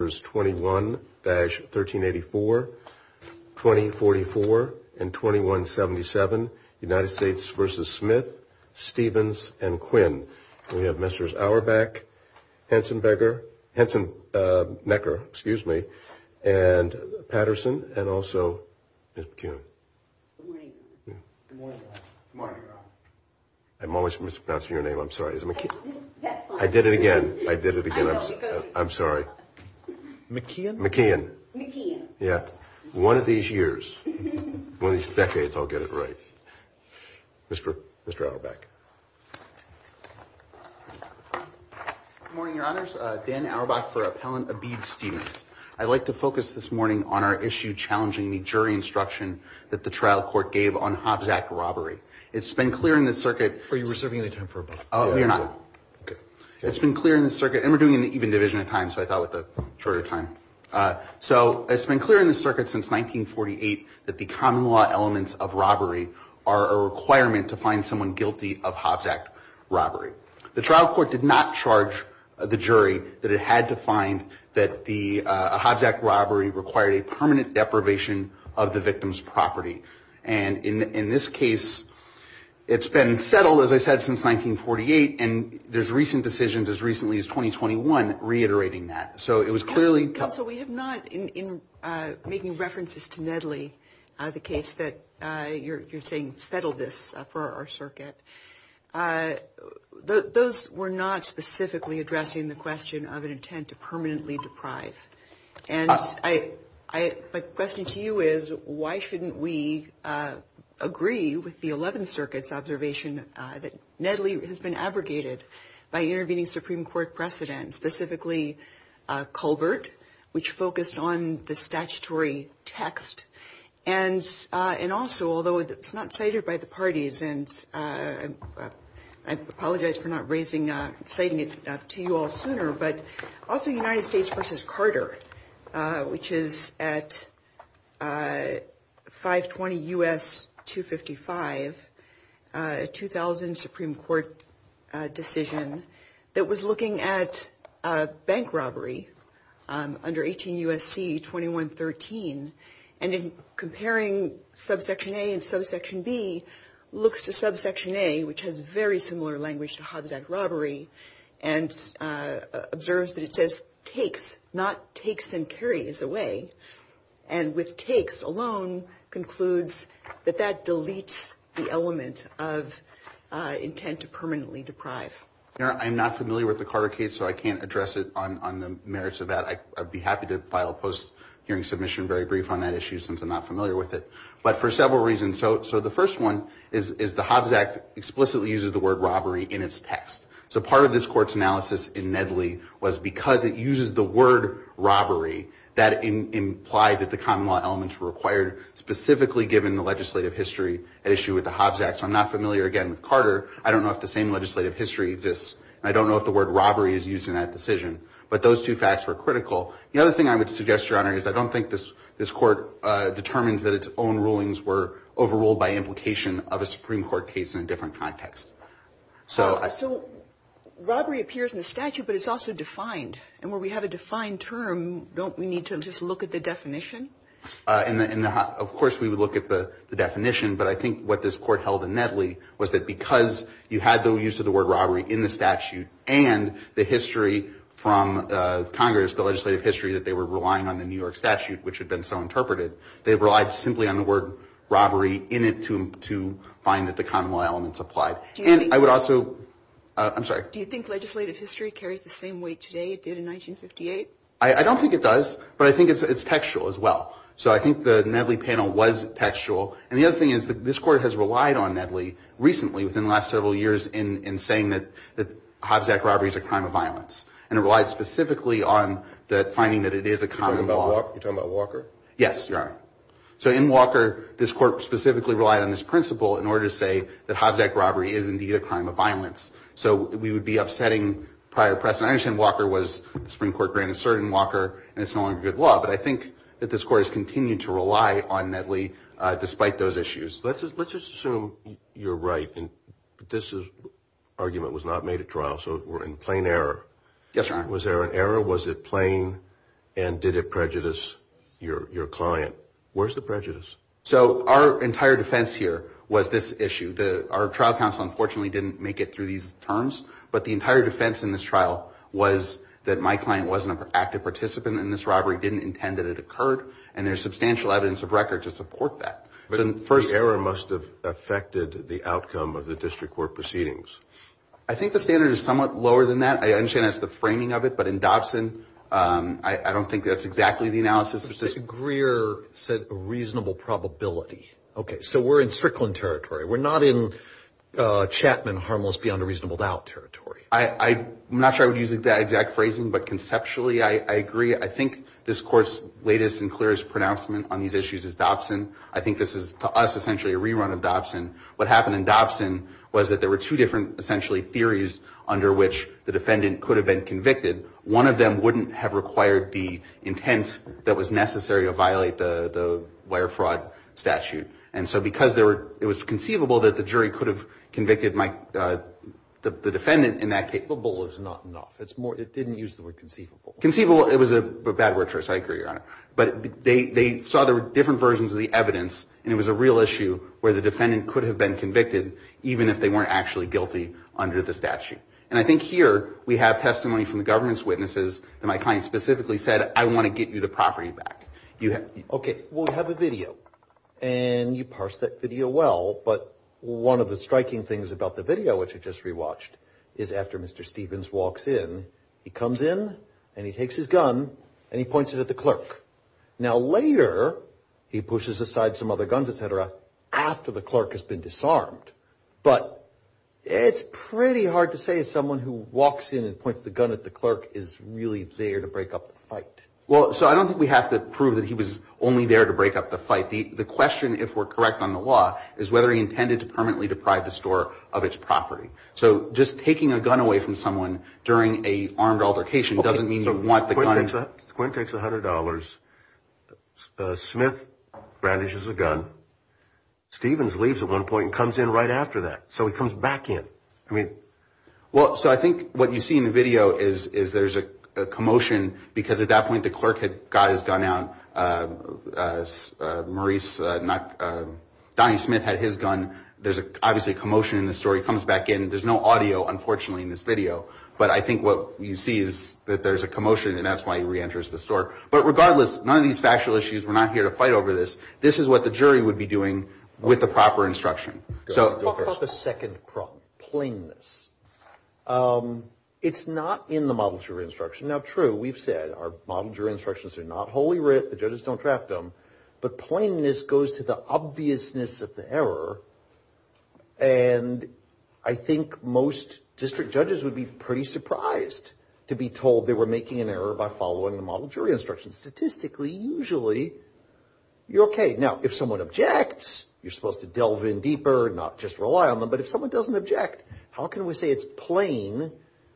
21-138420442177United States v Smith, Stevens and Quinn. We have Mr. Auerbach, Henson Becker, Henson Becker, excuse me, and Patterson and also McKeon. Good morning. I'm always mispronouncing your name. I'm sorry. I did it again. I did it again. I'm sorry. McKeon. McKeon. Yeah. One of these years, one of these decades, I'll get it right. Mr. Mr. Auerbach. Good morning, Your Honors. Dan Auerbach for Appellant Abid Stevens. I'd like to focus this morning on our issue challenging the jury instruction that the trial court gave on Hobbs Act robbery. It's been clear in the circuit. Are you reserving any time for a buck? No, you're not. Okay. It's been clear in the circuit, and we're doing an even division of time, so I thought with the shorter time. So it's been clear in the circuit since 1948 that the common law elements of robbery are a requirement to find someone guilty of Hobbs Act robbery. The trial court did not charge the jury that it had to find that the Hobbs Act robbery required a permanent deprivation of the victim's property. And in this case, it's been settled, as I said, since 1948, and there's recent decisions as recently as 2021 reiterating that. So it was clearly. So we have not in making references to Nedley, the case that you're saying, settle this for our circuit. Those were not specifically addressing the question of an intent to permanently deprive. And I question to you is, why shouldn't we agree with the 11th Circuit's observation that Nedley has been abrogated by intervening? And also, although it's not cited by the parties, and I apologize for not raising, citing it to you all sooner, but also United States versus Carter, which is at 520 U.S. 255, a 2000 Supreme Court decision, that was not cited by the parties. It was looking at bank robbery under 18 U.S.C. 2113. And in comparing subsection A and subsection B, looks to subsection A, which has very similar language to Hobbs Act robbery, and observes that it says takes, not takes and carries away. And with takes alone concludes that that deletes the element of intent to permanently deprive. I'm not familiar with the Carter case, so I can't address it on the merits of that. I'd be happy to file a post hearing submission very brief on that issue, since I'm not familiar with it. But for several reasons, so the first one is the Hobbs Act explicitly uses the word robbery in its text. So part of this court's analysis in Nedley was because it uses the word robbery, that implied that the common law elements were required, specifically given the legislative history at issue with the Hobbs Act. So I'm not familiar again with Carter. I don't know if the same legislative history exists, and I don't know if the word robbery is used in that decision. But those two facts were critical. The other thing I would suggest, Your Honor, is I don't think this court determines that its own rulings were overruled by implication of a Supreme Court case in a different context. So I... So robbery appears in the statute, but it's also defined. And where we have a defined term, don't we need to just look at the definition? And of course we would look at the definition, but I think what this court held in Nedley was that because you had the use of the word robbery in the statute and the history from Congress, the legislative history that they were relying on the New York statute, which had been so interpreted, they relied simply on the word robbery in it to find that the common law elements applied. And I would also... I'm sorry. Do you think legislative history carries the same weight today it did in 1958? I don't think it does, but I think it's textual as well. So I think the Nedley panel was textual. And the other thing is that this court has relied on Nedley recently within the last several years in saying that Hobbs Act robbery is a crime of violence. And it relies specifically on the finding that it is a common law. You're talking about Walker? Yes, Your Honor. So in Walker, this court specifically relied on this principle in order to say that Hobbs Act robbery is indeed a crime of violence. So we would be upsetting prior press. And I understand Walker was the Supreme Court granted cert in Walker, and it's no longer good law. But I think that this court has continued to rely on Nedley despite those issues. Let's just assume you're right. This argument was not made at trial. So we're in plain error. Yes, Your Honor. Was there an error? Was it plain? And did it prejudice your client? Where's the prejudice? So our entire defense here was this issue. Our trial counsel unfortunately didn't make it through these terms. But the entire defense in this trial was that my client wasn't an active participant in this robbery, didn't intend that it occurred, and there's substantial evidence of record to support that. So the error must have affected the outcome of the district court proceedings. I think the standard is somewhat lower than that. I understand that's the framing of it. But in Dobson, I don't think that's exactly the analysis. Mr. Greer said a reasonable probability. Okay. So we're in Strickland territory. We're not in Chapman harmless beyond a reasonable doubt territory. I'm not sure I would use that exact phrasing, but conceptually I agree. I think this court's latest and clearest pronouncement on these issues is Dobson. I think this is to us essentially a rerun of Dobson. What happened in Dobson was that there were two different essentially theories under which the defendant could have been convicted. One of them wouldn't have required the intent that was necessary to violate the wire fraud statute. And so because it was conceivable that the jury could have convicted the defendant in that case. Conceivable is not enough. It didn't use the word conceivable. Conceivable, it was a bad word choice. I agree, Your Honor. But they saw there were different versions of the evidence, and it was a real issue where the defendant could have been convicted, even if they weren't actually guilty under the statute. And I think here we have testimony from the government's witnesses that my client specifically said, I want to get you the property back. Okay, we'll have a video. And you parsed that video well. But one of the striking things about the video, which I just rewatched, is after Mr. Stevens walks in, he comes in and he takes his gun and he points it at the clerk. Now, later, he pushes aside some other guns, et cetera, after the clerk has been disarmed. But it's pretty hard to say someone who walks in and points the gun at the clerk is really there to break up the fight. Well, so I don't think we have to prove that he was only there to break up the fight. The question, if we're correct on the law, is whether he intended to permanently deprive the store of its property. So just taking a gun away from someone during an armed altercation doesn't mean you want the gun. Quinn takes $100. Smith brandishes a gun. Stevens leaves at one point and comes in right after that. So he comes back in. Well, so I think what you see in the video is there's a commotion because at that point the clerk had got his gun out. Maurice, Donnie Smith had his gun. There's obviously a commotion in the story. He comes back in. There's no audio, unfortunately, in this video. But I think what you see is that there's a commotion and that's why he reenters the store. But regardless, none of these factual issues, we're not here to fight over this. This is what the jury would be doing with the proper instruction. How about the second problem, plainness? It's not in the model jury instruction. Now, true, we've said our model jury instructions are not wholly writ. The judges don't draft them. But plainness goes to the obviousness of the error. And I think most district judges would be pretty surprised to be told they were making an error by following the model jury instructions. Statistically, usually you're okay. Now, if someone objects, you're supposed to delve in deeper, not just rely on them. But if someone doesn't object, how can we say it's plain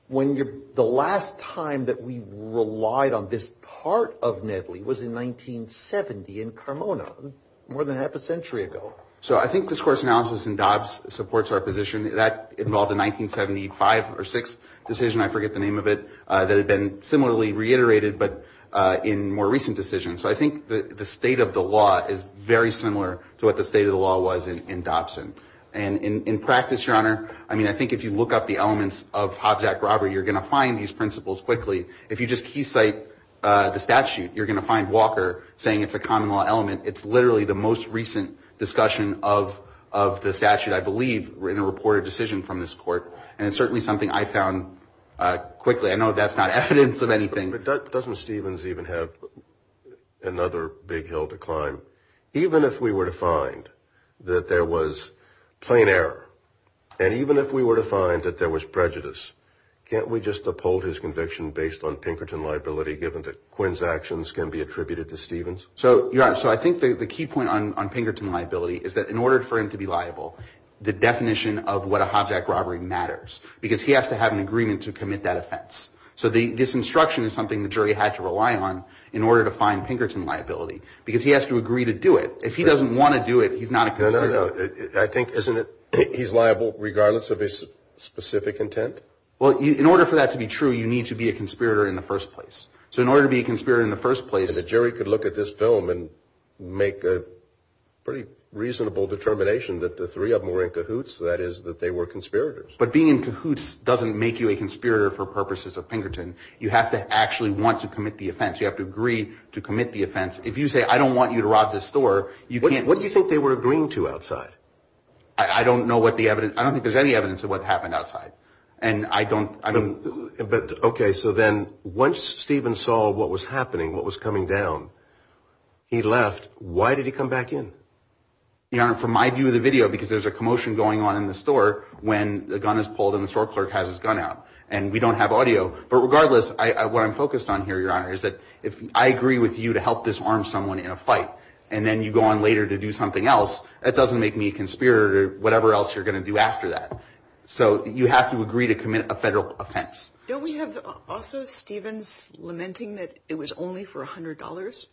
when the last time that we relied on this part of Nedley was in 1970 in Carmona, more than half a century ago? So I think this court's analysis in Dobbs supports our position. That involved a 1975 or 6 decision, I forget the name of it, that had been similarly reiterated but in more recent decisions. So I think the state of the law is very similar to what the state of the law was in Dobson. And in practice, Your Honor, I mean, I think if you look up the elements of Hobbs Act robbery, you're going to find these principles quickly. If you just keysight the statute, you're going to find Walker saying it's a common law element. It's literally the most recent discussion of the statute, I believe, in a reported decision from this court. And it's certainly something I found quickly. I know that's not evidence of anything. But doesn't Stevens even have another big hill to climb? Even if we were to find that there was plain error, and even if we were to find that there was prejudice, can't we just uphold his conviction based on Pinkerton liability given that Quinn's actions can be attributed to Stevens? So, Your Honor, so I think the key point on Pinkerton liability is that in order for him to be liable, the definition of what a Hobbs Act robbery matters because he has to have an agreement to commit that offense. So this instruction is something the jury had to rely on in order to find Pinkerton liability because he has to agree to do it. If he doesn't want to do it, he's not a conspirator. No, no, no. I think, isn't it, he's liable regardless of his specific intent? Well, in order for that to be true, you need to be a conspirator in the first place. So in order to be a conspirator in the first place. And the jury could look at this film and make a pretty reasonable determination that the three of them were in cahoots, that is, that they were conspirators. But being in cahoots doesn't make you a conspirator for purposes of Pinkerton. You have to actually want to commit the offense. You have to agree to commit the offense. If you say, I don't want you to rob this store, you can't. What do you think they were agreeing to outside? I don't know what the evidence, I don't think there's any evidence of what happened outside. And I don't, I don't. But OK, so then once Steven saw what was happening, what was coming down, he left. Why did he come back in? Your Honor, from my view of the video, because there's a commotion going on in the store when the gun is pulled and the store clerk has his gun out and we don't have audio. But regardless, what I'm focused on here, Your Honor, is that if I agree with you to help disarm someone in a fight and then you go on later to do something else, that doesn't make me a conspirator or whatever else you're going to do after that. So you have to agree to commit a federal offense. Don't we have also Stevens lamenting that it was only for $100?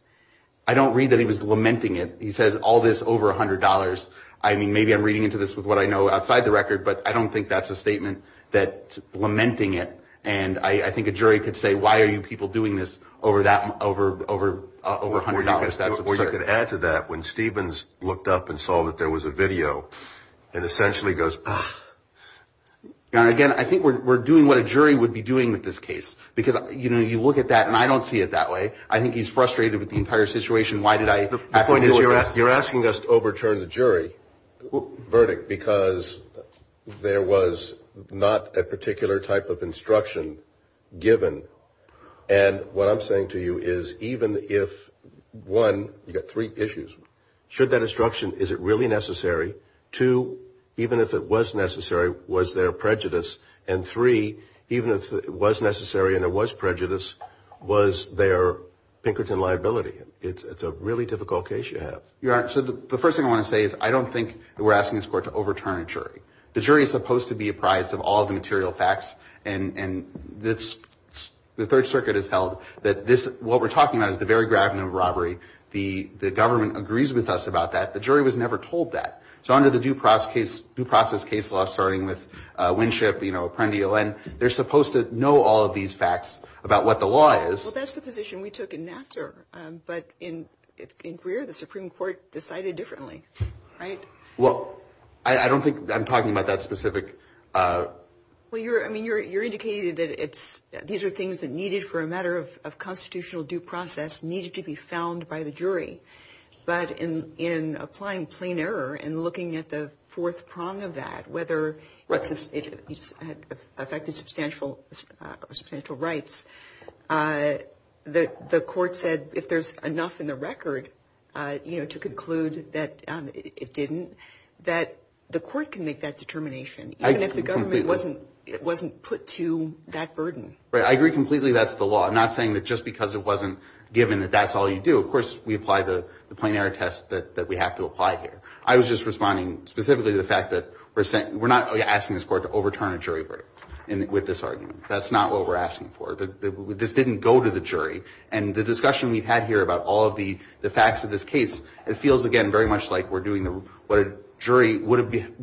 I don't read that he was lamenting it. He says all this over $100. I mean, maybe I'm reading into this with what I know outside the record, but I don't think that's a statement that lamenting it. And I think a jury could say, why are you people doing this over that, over, over, over $100? Or you could add to that, when Stevens looked up and saw that there was a video and essentially goes, Your Honor, again, I think we're doing what a jury would be doing with this case. Because, you know, you look at that and I don't see it that way. I think he's frustrated with the entire situation. Why did I have to do it? The point is, you're asking us to overturn the jury verdict because there was not a particular type of instruction given. And what I'm saying to you is, even if, one, you've got three issues. Should that instruction, is it really necessary? Two, even if it was necessary, was there prejudice? And three, even if it was necessary and there was prejudice, was there Pinkerton liability? It's a really difficult case you have. Your Honor, so the first thing I want to say is, I don't think we're asking this Court to overturn a jury. The jury is supposed to be apprised of all the material facts. And the Third Circuit has held that what we're talking about is the very gravity of robbery. The government agrees with us about that. The jury was never told that. So under the due process case law, starting with Winship, you know, Apprendio, they're supposed to know all of these facts about what the law is. Well, that's the position we took in Nassar. But in Greer, the Supreme Court decided differently, right? Well, I don't think I'm talking about that specific. Well, I mean, you're indicating that these are things that needed for a matter of constitutional due process, needed to be found by the jury. But in applying plain error and looking at the fourth prong of that, whether it affected substantial rights, the Court said if there's enough in the record, you know, to conclude that it didn't, that the Court can make that determination, even if the government wasn't put to that burden. Right. I agree completely that's the law. I'm not saying that just because it wasn't given that that's all you do. Of course we apply the plain error test that we have to apply here. I was just responding specifically to the fact that we're not asking this Court to overturn a jury verdict with this argument. That's not what we're asking for. This didn't go to the jury. And the discussion we've had here about all of the facts of this case, it feels, again, very much like we're doing what a jury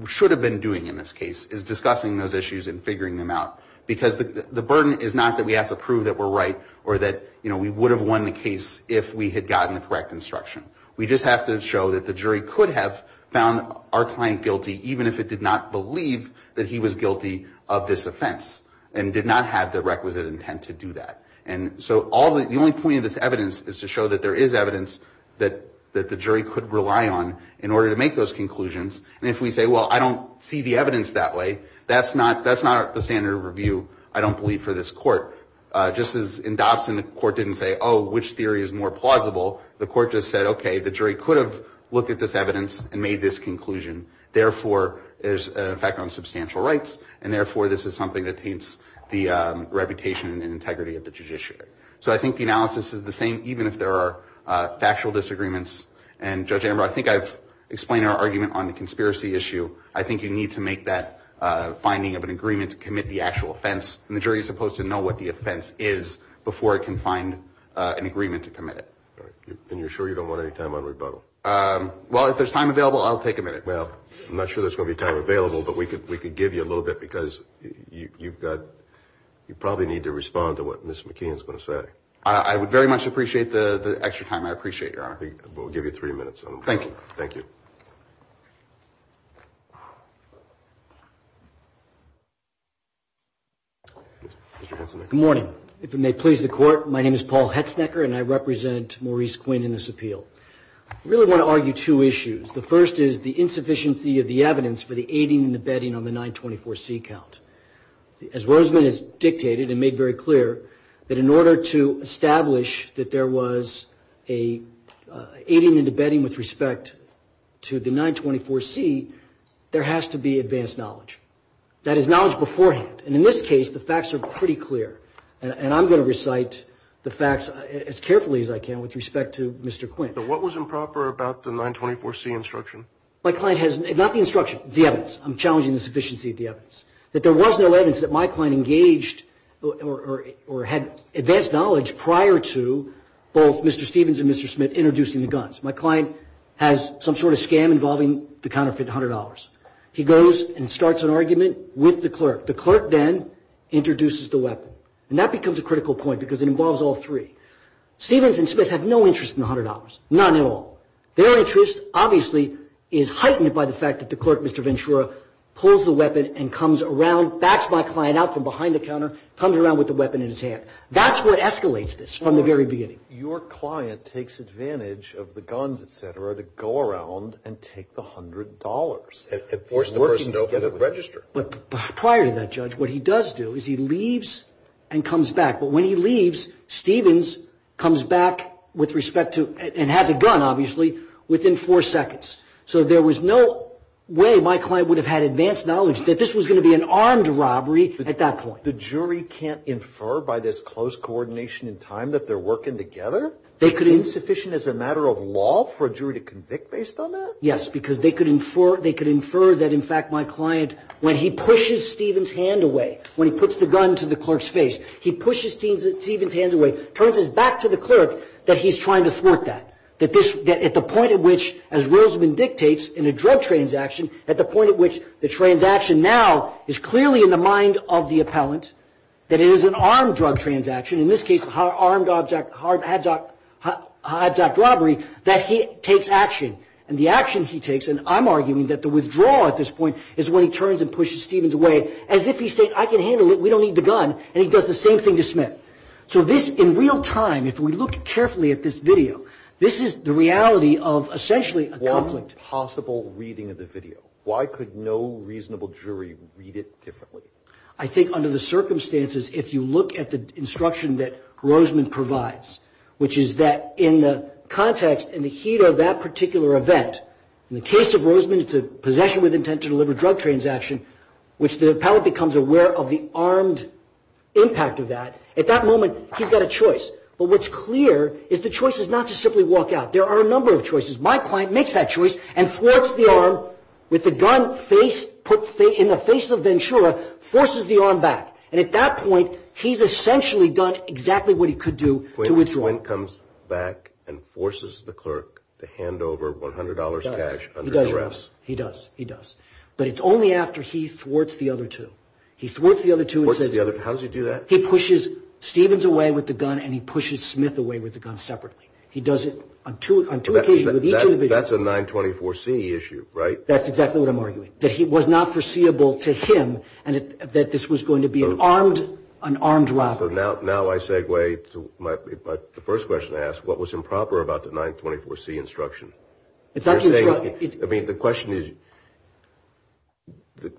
should have been doing in this case, is discussing those issues and figuring them out. Because the burden is not that we have to prove that we're right or that, you know, we would have won the case if we had gotten the correct instruction. We just have to show that the jury could have found our client guilty, even if it did not believe that he was guilty of this offense and did not have the requisite intent to do that. And so the only point of this evidence is to show that there is evidence that the jury could rely on in order to make those conclusions. And if we say, well, I don't see the evidence that way, that's not the standard of review, I don't believe, for this court. Just as in Dobson, the court didn't say, oh, which theory is more plausible? The court just said, okay, the jury could have looked at this evidence and made this conclusion. Therefore, there's an effect on substantial rights, and therefore this is something that paints the reputation and integrity of the judiciary. So I think the analysis is the same even if there are factual disagreements. And, Judge Amber, I think I've explained our argument on the conspiracy issue. I think you need to make that finding of an agreement to commit the actual offense, and the jury is supposed to know what the offense is before it can find an agreement to commit it. And you're sure you don't want any time on rebuttal? Well, if there's time available, I'll take a minute. Well, I'm not sure there's going to be time available, but we could give you a little bit because you probably need to respond to what Ms. McKeon is going to say. I would very much appreciate the extra time. I appreciate it, Your Honor. We'll give you three minutes on rebuttal. Thank you. Thank you. Mr. Hetzenecker. Good morning. If it may please the Court, my name is Paul Hetzenecker, and I represent Maurice Quinn in this appeal. I really want to argue two issues. The first is the insufficiency of the evidence for the aiding and abetting on the 924C count. As Rosamond has dictated and made very clear, that in order to establish that there was aiding and abetting with respect to the 924C, there has to be advanced knowledge. That is, knowledge beforehand. And in this case, the facts are pretty clear. And I'm going to recite the facts as carefully as I can with respect to Mr. Quinn. What was improper about the 924C instruction? My client has not the instruction, the evidence. I'm challenging the sufficiency of the evidence. That there was no evidence that my client engaged or had advanced knowledge prior to both Mr. Stevens and Mr. Smith introducing the guns. My client has some sort of scam involving the counterfeit $100. He goes and starts an argument with the clerk. The clerk then introduces the weapon. And that becomes a critical point because it involves all three. Stevens and Smith have no interest in the $100, none at all. Their interest obviously is heightened by the fact that the clerk, Mr. Ventura, pulls the weapon and comes around, backs my client out from behind the counter, comes around with the weapon in his hand. That's what escalates this from the very beginning. Your client takes advantage of the guns, et cetera, to go around and take the $100. And force the person to get a register. But prior to that, Judge, what he does do is he leaves and comes back. But when he leaves, Stevens comes back with respect to, and has a gun obviously, within four seconds. So there was no way my client would have had advanced knowledge that this was going to be an armed robbery at that point. The jury can't infer by this close coordination in time that they're working together? It's insufficient as a matter of law for a jury to convict based on that? Yes, because they could infer that, in fact, my client, when he pushes Stevens' hand away, when he puts the gun to the clerk's face, he pushes Stevens' hand away, turns his back to the clerk that he's trying to thwart that. At the point at which, as Roseman dictates, in a drug transaction, at the point at which the transaction now is clearly in the mind of the appellant, that it is an armed drug transaction, in this case, an armed abduct robbery, that he takes action. And the action he takes, and I'm arguing that the withdrawal at this point, is when he turns and pushes Stevens' way, as if he's saying, I can handle it, we don't need the gun, and he does the same thing to Smith. So this, in real time, if we look carefully at this video, this is the reality of essentially a conflict. One possible reading of the video. Why could no reasonable jury read it differently? I think under the circumstances, if you look at the instruction that Roseman provides, which is that in the context, in the heat of that particular event, in the case of Roseman, it's a possession with intent to deliver a drug transaction, which the appellant becomes aware of the armed impact of that. At that moment, he's got a choice. But what's clear is the choice is not to simply walk out. There are a number of choices. My client makes that choice and thwarts the arm with the gun in the face of Ventura, forces the arm back. And at that point, he's essentially done exactly what he could do to withdraw. Quinn comes back and forces the clerk to hand over $100 cash under duress. He does. He does. He does. But it's only after he thwarts the other two. He thwarts the other two. How does he do that? He pushes Stevens away with the gun and he pushes Smith away with the gun separately. He does it on two occasions with each individual. That's a 924C issue, right? That's exactly what I'm arguing, that it was not foreseeable to him that this was going to be an armed robbery. Now I segue to the first question I asked. What was improper about the 924C instruction? I mean, the question is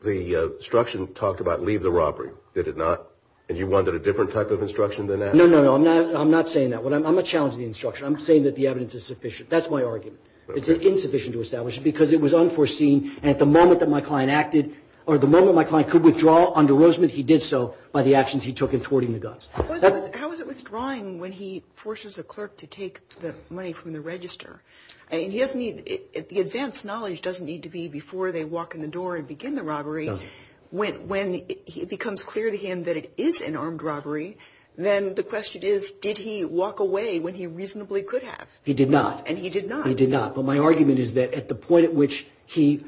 the instruction talked about leave the robbery. Did it not? And you wanted a different type of instruction than that? No, no, no. I'm not saying that. I'm not challenging the instruction. I'm saying that the evidence is sufficient. That's my argument. It's insufficient to establish it because it was unforeseen. And at the moment that my client acted or the moment my client could withdraw under Roseman, he did so by the actions he took in thwarting the guns. How is it withdrawing when he forces the clerk to take the money from the register? He doesn't need the advance knowledge doesn't need to be before they walk in the door and begin the robbery. When it becomes clear to him that it is an armed robbery, then the question is, did he walk away when he reasonably could have? He did not. And he did not. He did not. But my argument is that at the point at which he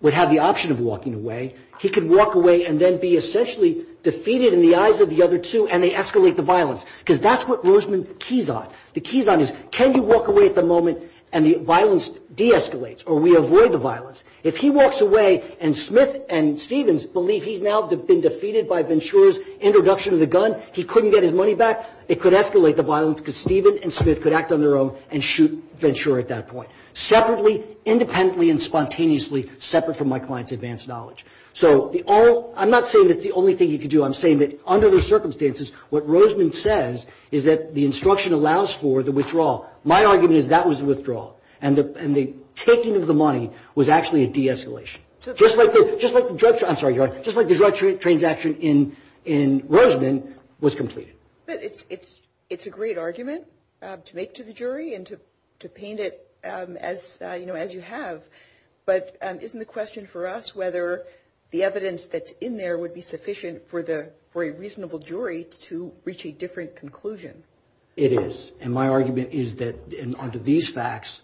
would have the option of walking away, he could walk away and then be essentially defeated in the eyes of the other two and they escalate the violence. Because that's what Roseman keys on. The keys on is can you walk away at the moment and the violence de-escalates or we avoid the violence. If he walks away and Smith and Stevens believe he's now been defeated by Ventura's introduction of the gun, he couldn't get his money back, it could escalate the violence because Steven and Smith could act on their own and shoot Ventura at that point. Separately, independently and spontaneously separate from my client's advance knowledge. So I'm not saying that's the only thing he could do. I'm saying that under the circumstances, what Roseman says is that the instruction allows for the withdrawal. My argument is that was the withdrawal. And the taking of the money was actually a de-escalation. Just like the drug transaction in Roseman was completed. But it's a great argument to make to the jury and to paint it as you have. But isn't the question for us whether the evidence that's in there would be sufficient for a reasonable jury to reach a different conclusion? It is. And my argument is that under these facts,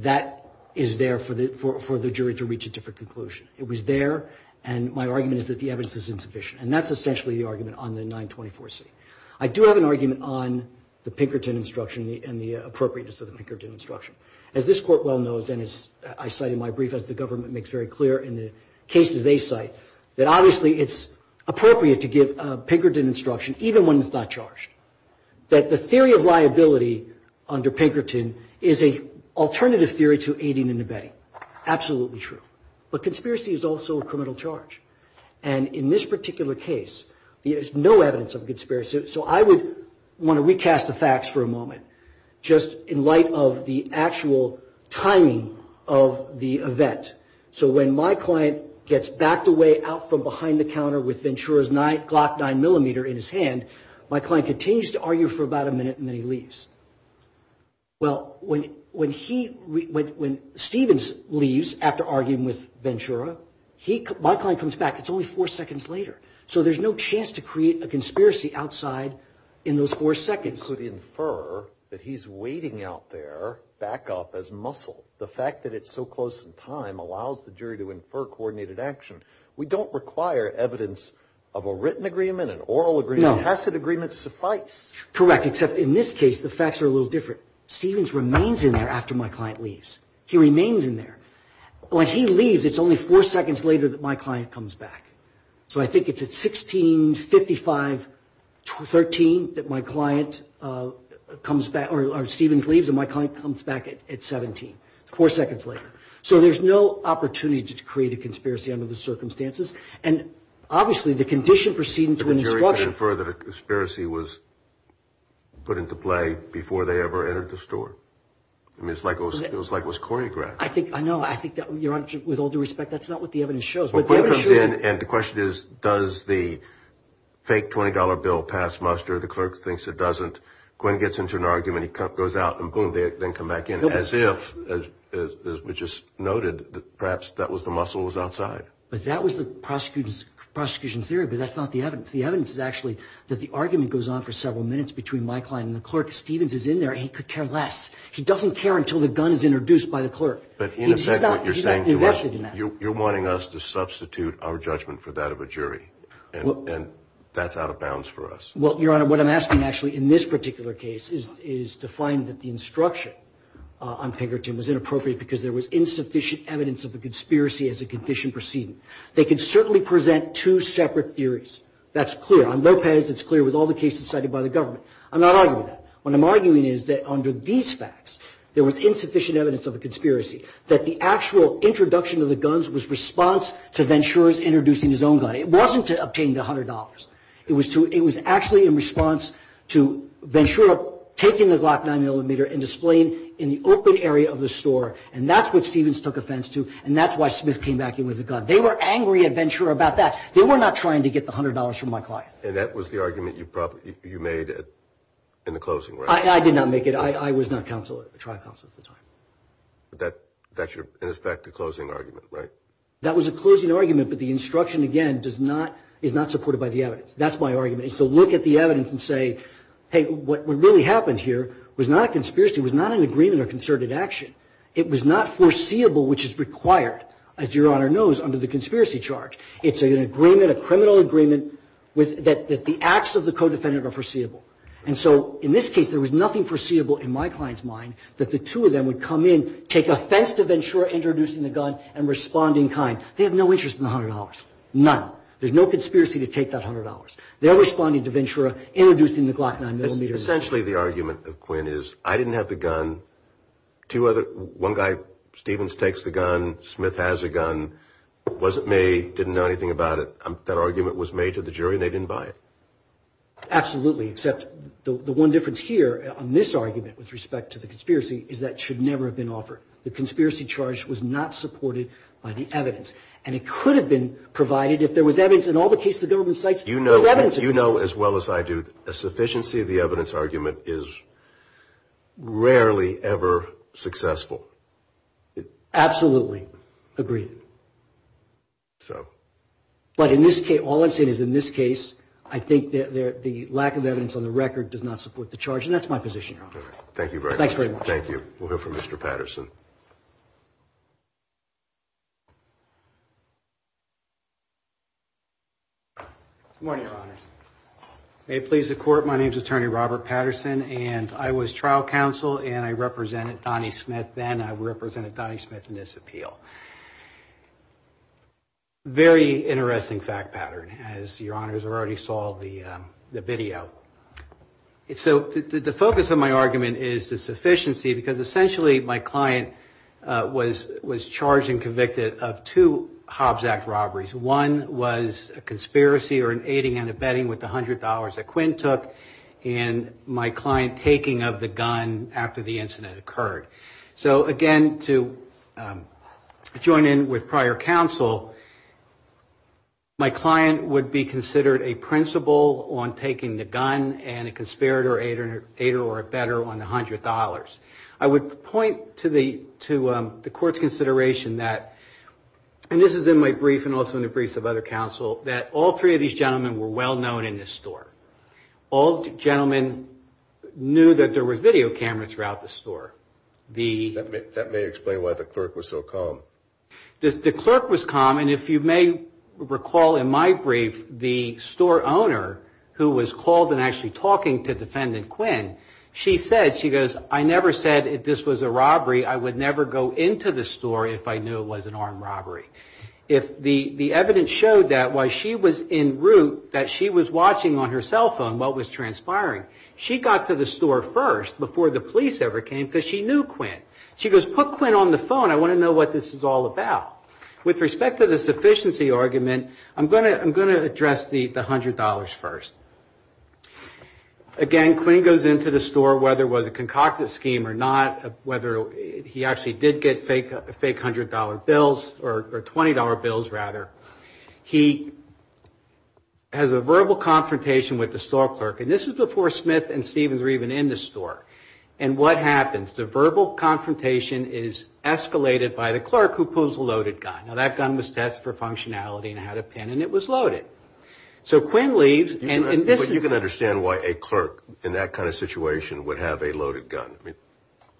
that is there for the jury to reach a different conclusion. It was there. And my argument is that the evidence is insufficient. And that's essentially the argument on the 924C. I do have an argument on the Pinkerton instruction and the appropriateness of the Pinkerton instruction. As this court well knows, and as I cite in my brief, as the government makes very clear in the cases they cite, that obviously it's appropriate to give a Pinkerton instruction even when it's not charged. That the theory of liability under Pinkerton is an alternative theory to aiding and abetting. Absolutely true. But conspiracy is also a criminal charge. And in this particular case, there's no evidence of conspiracy. So I would want to recast the facts for a moment. Just in light of the actual timing of the event. So when my client gets backed away out from behind the counter with Ventura's Glock 9mm in his hand, my client continues to argue for about a minute and then he leaves. Well, when Stevens leaves after arguing with Ventura, my client comes back. It's only four seconds later. So there's no chance to create a conspiracy outside in those four seconds. So to infer that he's waiting out there back up as muscle. The fact that it's so close in time allows the jury to infer coordinated action. We don't require evidence of a written agreement, an oral agreement, a tacit agreement suffice. Correct. Except in this case, the facts are a little different. Stevens remains in there after my client leaves. He remains in there. When he leaves, it's only four seconds later that my client comes back. So I think it's at 1655.13 that my client comes back. Or Stevens leaves and my client comes back at 17. Four seconds later. So there's no opportunity to create a conspiracy under the circumstances. And obviously the condition proceeding to an instruction. The jury could infer that a conspiracy was put into play before they ever entered the store. I mean, it was like it was choreographed. I know. I think that with all due respect, that's not what the evidence shows. And the question is, does the fake $20 bill pass muster? The clerk thinks it doesn't. Gwen gets into an argument. He goes out and boom, they then come back in. As if, as we just noted, perhaps that was the muscle that was outside. But that was the prosecution's theory. But that's not the evidence. The evidence is actually that the argument goes on for several minutes between my client and the clerk. Stevens is in there. He could care less. He doesn't care until the gun is introduced by the clerk. But in effect, what you're saying to us, you're wanting us to substitute our judgment for that of a jury. And that's out of bounds for us. Well, Your Honor, what I'm asking actually in this particular case is to find that the instruction on Pinkerton was inappropriate because there was insufficient evidence of a conspiracy as a condition proceeding. They could certainly present two separate theories. That's clear. On Lopez, it's clear with all the cases cited by the government. I'm not arguing that. What I'm arguing is that under these facts, there was insufficient evidence of a conspiracy, that the actual introduction of the guns was response to Ventura's introducing his own gun. It wasn't to obtain the $100. It was actually in response to Ventura taking the Glock 9mm and displaying it in the open area of the store. And that's what Stevens took offense to. And that's why Smith came back in with the gun. They were angry at Ventura about that. They were not trying to get the $100 from my client. And that was the argument you made in the closing, right? I did not make it. I was not a trial counsel at the time. But that should have been, in effect, a closing argument, right? That was a closing argument. But the instruction, again, is not supported by the evidence. That's my argument. So look at the evidence and say, hey, what really happened here was not a conspiracy, was not an agreement or concerted action. It was not foreseeable, which is required, as Your Honor knows, under the conspiracy charge. It's an agreement, a criminal agreement, that the acts of the co-defendant are foreseeable. And so in this case, there was nothing foreseeable in my client's mind that the two of them would come in, take offense to Ventura introducing the gun and responding kind. They have no interest in the $100. None. There's no conspiracy to take that $100. They're responding to Ventura introducing the Glock 9mm. Essentially, the argument of Quinn is I didn't have the gun. One guy, Stevens, takes the gun. Smith has a gun. It wasn't made. Didn't know anything about it. That argument was made to the jury and they didn't buy it. Absolutely, except the one difference here on this argument with respect to the conspiracy is that should never have been offered. The conspiracy charge was not supported by the evidence. And it could have been provided if there was evidence in all the cases the government cites. You know, as well as I do, the sufficiency of the evidence argument is rarely ever successful. Absolutely. Agreed. So. But in this case, all I'm saying is in this case, I think the lack of evidence on the record does not support the charge. And that's my position, Your Honor. Thank you very much. Thanks very much. Thank you. We'll hear from Mr. Patterson. Good morning, Your Honors. May it please the Court, my name is Attorney Robert Patterson. And I was trial counsel and I represented Donnie Smith then. I represented Donnie Smith in this appeal. Very interesting fact pattern, as Your Honors already saw the video. So the focus of my argument is the sufficiency, because essentially my client was charged and convicted of two Hobbs Act robberies. One was a conspiracy or an aiding and abetting with the $100 that Quinn took. And my client taking of the gun after the incident occurred. So, again, to join in with prior counsel, my client would be considered a principal on taking the gun and a conspirator, aider, or abetter on the $100. I would point to the Court's consideration that, and this is in my brief and also in the briefs of other counsel, that all three of these gentlemen were well-known in this store. All gentlemen knew that there were video cameras throughout the store. That may explain why the clerk was so calm. The clerk was calm. And if you may recall in my brief, the store owner who was called and said, I never said if this was a robbery, I would never go into the store if I knew it was an armed robbery. The evidence showed that while she was en route, that she was watching on her cell phone what was transpiring. She got to the store first before the police ever came, because she knew Quinn. She goes, put Quinn on the phone. I want to know what this is all about. With respect to the sufficiency argument, I'm going to address the $100 first. Again, Quinn goes into the store, whether it was a concocted scheme or not, whether he actually did get fake $100 bills, or $20 bills rather. He has a verbal confrontation with the store clerk. And this was before Smith and Stevens were even in the store. And what happens? The verbal confrontation is escalated by the clerk who pulls the loaded gun. Now, that gun was tested for functionality and had a pin, and it was loaded. So Quinn leaves. But you can understand why a clerk in that kind of situation would have a loaded gun.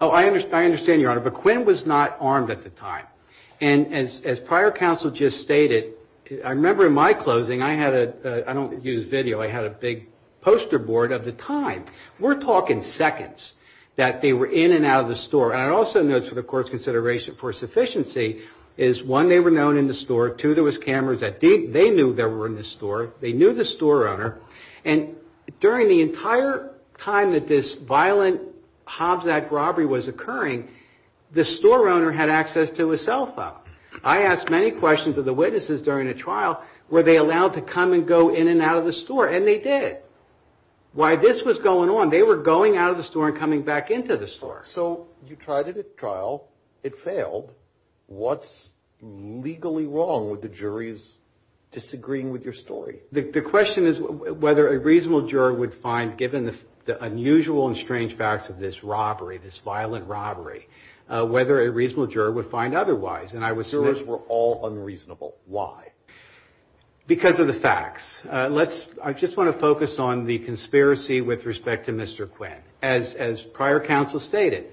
Oh, I understand, Your Honor. But Quinn was not armed at the time. And as prior counsel just stated, I remember in my closing, I had a, I don't use video, I had a big poster board of the time. We're talking seconds that they were in and out of the store. And I also note for the court's consideration for sufficiency is one, they were known in the store. Two, there was cameras. They knew they were in the store. They knew the store owner. And during the entire time that this violent Hobbs Act robbery was occurring, the store owner had access to a cell phone. I asked many questions of the witnesses during the trial, were they allowed to come and go in and out of the store? And they did. While this was going on, they were going out of the store and coming back into the store. So you tried it at trial. It failed. What's legally wrong with the juries disagreeing with your story? The question is whether a reasonable juror would find, given the unusual and strange facts of this robbery, this violent robbery, whether a reasonable juror would find otherwise. Jurors were all unreasonable. Why? Because of the facts. Let's, I just want to focus on the conspiracy with respect to Mr. Quinn. As prior counsel stated,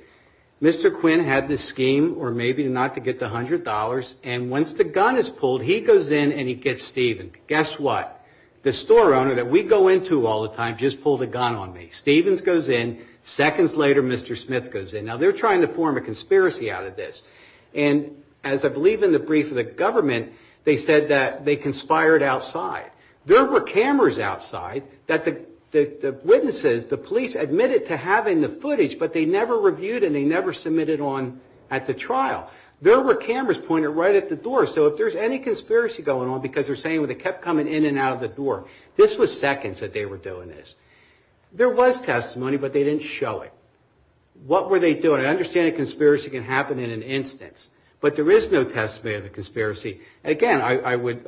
Mr. Quinn had this scheme, or maybe not, to get the $100. And once the gun is pulled, he goes in and he gets Stephen. Guess what? The store owner that we go into all the time just pulled a gun on me. Stephen goes in. Seconds later, Mr. Smith goes in. Now, they're trying to form a conspiracy out of this. And as I believe in the brief of the government, they said that they conspired outside. There were cameras outside that the witnesses, the police admitted to having the footage, but they never reviewed and they never submitted on at the trial. There were cameras pointed right at the door. So if there's any conspiracy going on because they're saying they kept coming in and out of the door, this was seconds that they were doing this. There was testimony, but they didn't show it. What were they doing? I understand a conspiracy can happen in an instance. But there is no testimony of a conspiracy. Again, I would,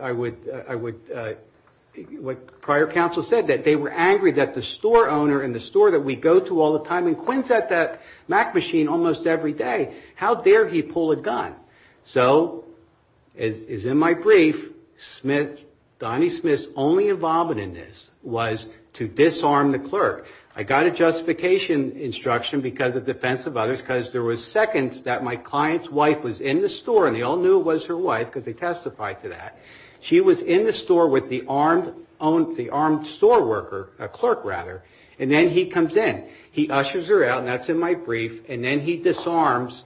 what prior counsel said, that they were angry that the store owner and the store that we go to all the time, and Quinn's at that Mac machine almost every day. How dare he pull a gun? So, as in my brief, Smith, Donnie Smith's only involvement in this was to disarm the clerk. I got a justification instruction because of defense of others, because there was seconds that my client's wife was in the store and they all knew who was her wife because they testified to that. She was in the store with the armed store worker, clerk rather, and then he comes in. He ushers her out, and that's in my brief, and then he disarms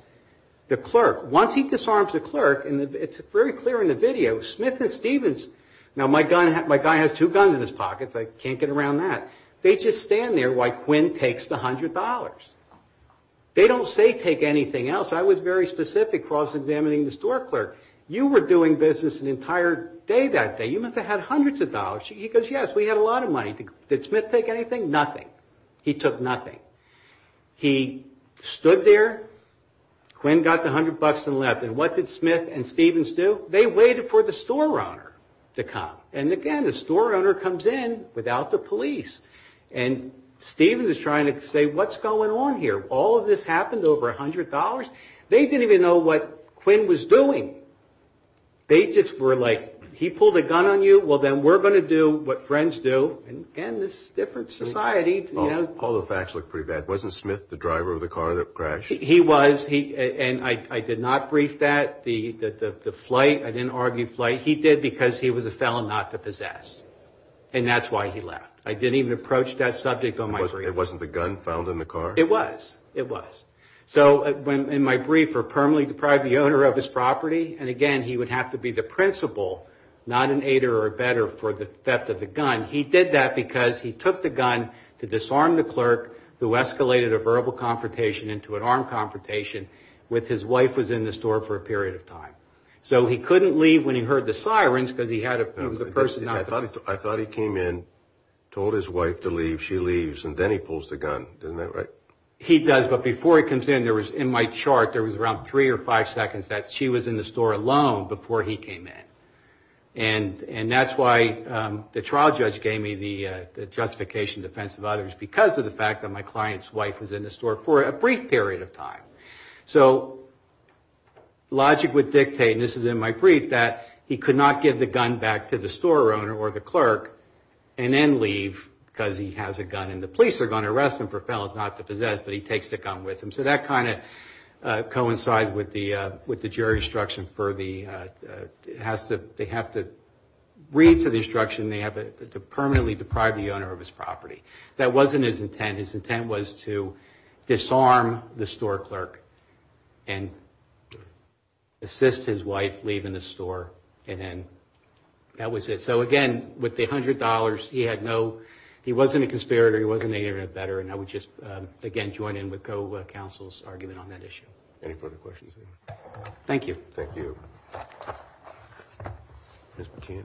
the clerk. Once he disarms the clerk, and it's very clear in the video, Smith and Stevens, now my guy has two guns in his pockets, I can't get around that. They just stand there while Quinn takes the $100. They don't say take anything else. I was very specific cross-examining the store clerk. You were doing business an entire day that day. You must have had hundreds of dollars. He goes, yes, we had a lot of money. Did Smith take anything? Nothing. He took nothing. He stood there. Quinn got the $100 and left, and what did Smith and Stevens do? They waited for the store owner to come, and again, the store owner comes in without the police, and Stevens is trying to say, what's going on here? All of this happened over $100? They didn't even know what Quinn was doing. They just were like, he pulled a gun on you? Well, then we're going to do what friends do. Again, this is a different society. All the facts look pretty bad. Wasn't Smith the driver of the car that crashed? He was, and I did not brief that. The flight, I didn't argue flight. He did because he was a felon not to possess, and that's why he left. I didn't even approach that subject on my brief. It wasn't the gun found in the car? It was. It was. So in my brief, we're permanently deprived the owner of his property, and again, he would have to be the principal, not an aider or a bedder for the theft of the gun. He did that because he took the gun to disarm the clerk who escalated a verbal confrontation into an armed confrontation with his wife who was in the store for a period of time. So he couldn't leave when he heard the sirens because he was a person not to possess. I thought he came in, told his wife to leave, she leaves, and then he pulls the gun. Isn't that right? He does, but before he comes in, there was in my chart, there was around three or five seconds that she was in the store alone before he came in. And that's why the trial judge gave me the justification in defense of others because of the fact that my client's wife was in the store for a brief period of time. So logic would dictate, and this is in my brief, that he could not give the gun back to the store owner or the clerk and then leave because he has a gun. And the police are going to arrest him for felons not to possess, but he takes the gun with him. So that kind of coincides with the jury's instruction for the, they have to read to the instruction to permanently deprive the owner of his property. That wasn't his intent. His intent was to disarm the store clerk and assist his wife leaving the store and then that was it. And so, again, with the $100, he had no, he wasn't a conspirator, he wasn't any better, and I would just, again, join in with co-counsel's argument on that issue. Any further questions? Thank you. Thank you. Ms. McKeon.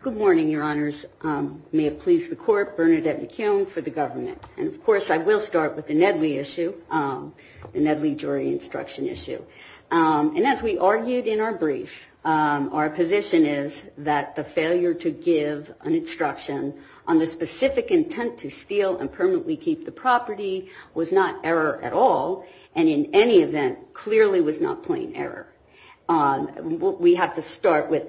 Good morning, Your Honors. May it please the court, Bernadette McKeon for the government. And, of course, I will start with the Nedley issue, the Nedley jury instruction issue. And as we argued in our brief, our position is that the failure to give an instruction on the specific intent to steal and permanently keep the property was not error at all and in any event clearly was not plain error. We have to start with,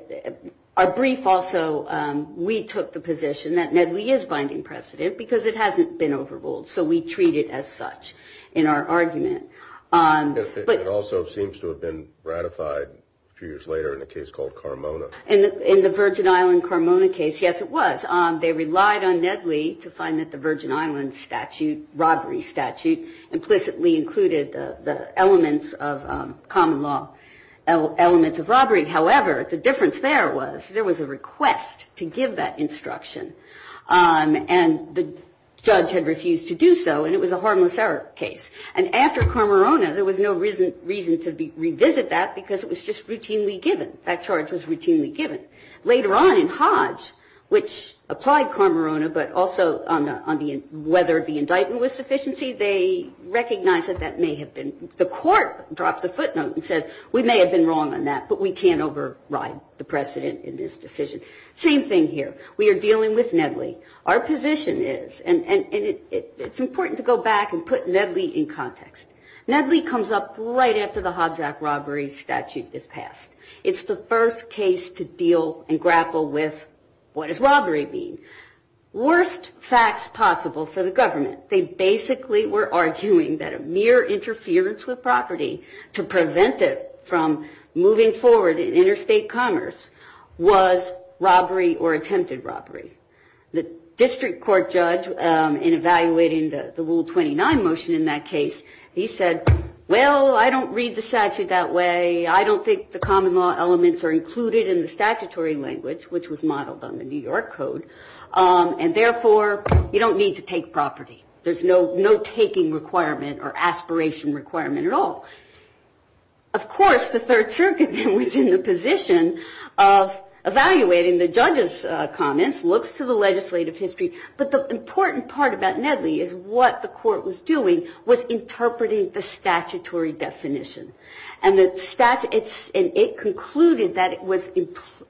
our brief also, we took the position that Nedley is binding precedent because it hasn't been overruled, so we treat it as such in our argument. It also seems to have been ratified a few years later in a case called Carmona. In the Virgin Island Carmona case, yes, it was. They relied on Nedley to find that the Virgin Island statute, robbery statute, implicitly included the elements of common law elements of robbery. However, the difference there was there was a request to give that instruction and the judge had refused to do so and it was a harmless error case. And after Carmona, there was no reason to revisit that because it was just routinely given. That charge was routinely given. Later on in Hodge, which applied Carmona but also on whether the indictment was sufficiency, they recognized that that may have been. The court drops a footnote and says we may have been wrong on that, but we can't override the precedent in this decision. Same thing here. We are dealing with Nedley. Our position is, and it's important to go back and put Nedley in context. Nedley comes up right after the Hodge Act robbery statute is passed. It's the first case to deal and grapple with what does robbery mean. Worst facts possible for the government, they basically were arguing that a mere interference with property to prevent it from moving forward in interstate commerce was robbery or attempted robbery. The district court judge in evaluating the Rule 29 motion in that case, he said, well, I don't read the statute that way. I don't think the common law elements are included in the statutory language, which was modeled on the New York Code, and therefore, you don't need to take property. There's no taking requirement or aspiration requirement at all. Of course, the Third Circuit was in the position of evaluating the judge's comments, looks to the legislative history. But the important part about Nedley is what the court was doing was interpreting the statutory definition. And it concluded that it was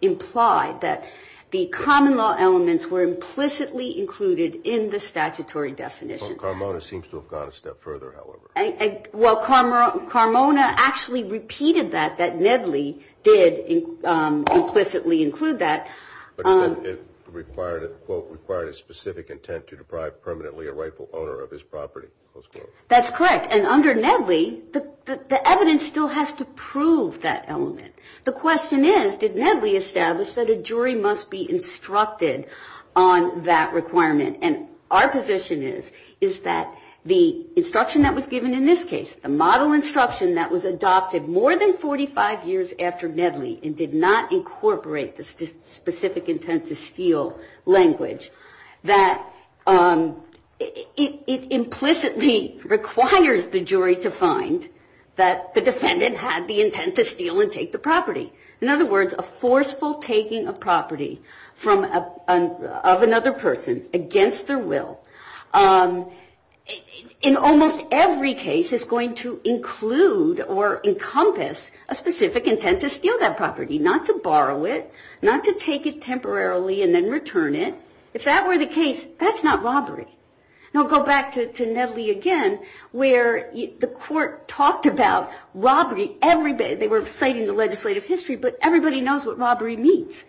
implied that the common law elements were implicitly included in the statutory definition. Well, Carmona seems to have gone a step further, however. Well, Carmona actually repeated that, that Nedley did implicitly include that. But it required a quote, required a specific intent to deprive permanently a rightful owner of his property. That's correct. And under Nedley, the evidence still has to prove that element. The question is, did Nedley establish that a jury must be instructed on that requirement? And our position is, is that the instruction that was given in this case, the model instruction that was adopted more than 45 years after Nedley and did not incorporate the specific intent to steal language, that it implicitly requires the jury to find that the defendant had the intent to steal and take the property. In other words, a forceful taking of property of another person against their will, in almost every case is going to include or encompass a specific intent to steal that property, not to borrow it, not to take it temporarily and then return it. If that were the case, that's not robbery. Now, go back to Nedley again, where the court talked about robbery every day. They were citing the legislative history, but everybody knows what robbery means.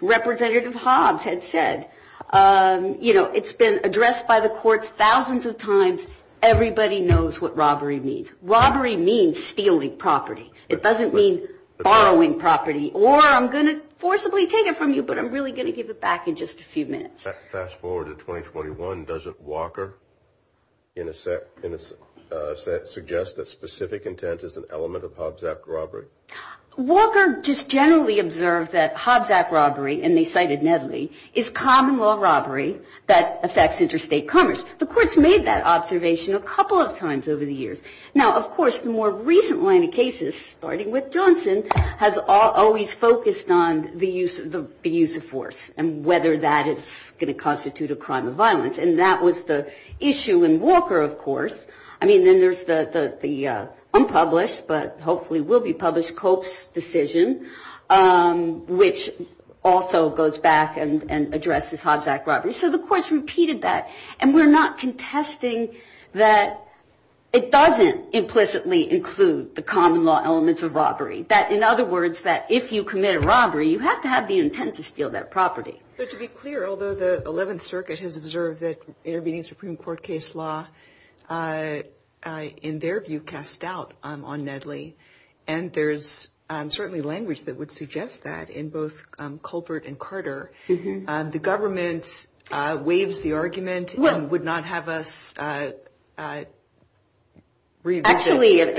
Representative Hobbs had said, you know, it's been addressed by the courts thousands of times. Everybody knows what robbery means. Robbery means stealing property. It doesn't mean borrowing property. Or I'm going to forcibly take it from you, but I'm really going to give it back in just a few minutes. Fast forward to 2021, doesn't Walker suggest that specific intent is an element of Hobbs Act robbery? Walker just generally observed that Hobbs Act robbery, and they cited Nedley, is common law robbery that affects interstate commerce. The courts made that observation a couple of times over the years. Now, of course, the more recent line of cases, starting with Johnson, has always focused on the use of force and whether that is going to constitute a crime of violence. And that was the issue in Walker, of course. I mean, then there's the unpublished, but hopefully will be published, Cope's decision, which also goes back and addresses Hobbs Act robbery. So the courts repeated that. And we're not contesting that it doesn't implicitly include the common law elements of robbery. That, in other words, that if you commit a robbery, you have to have the intent to steal that property. To be clear, although the 11th Circuit has observed that intervening Supreme Court case law, in their view, cast doubt on Nedley, and there's certainly language that would suggest that in both Culpert and Carter. The government waives the argument and would not have us revisit.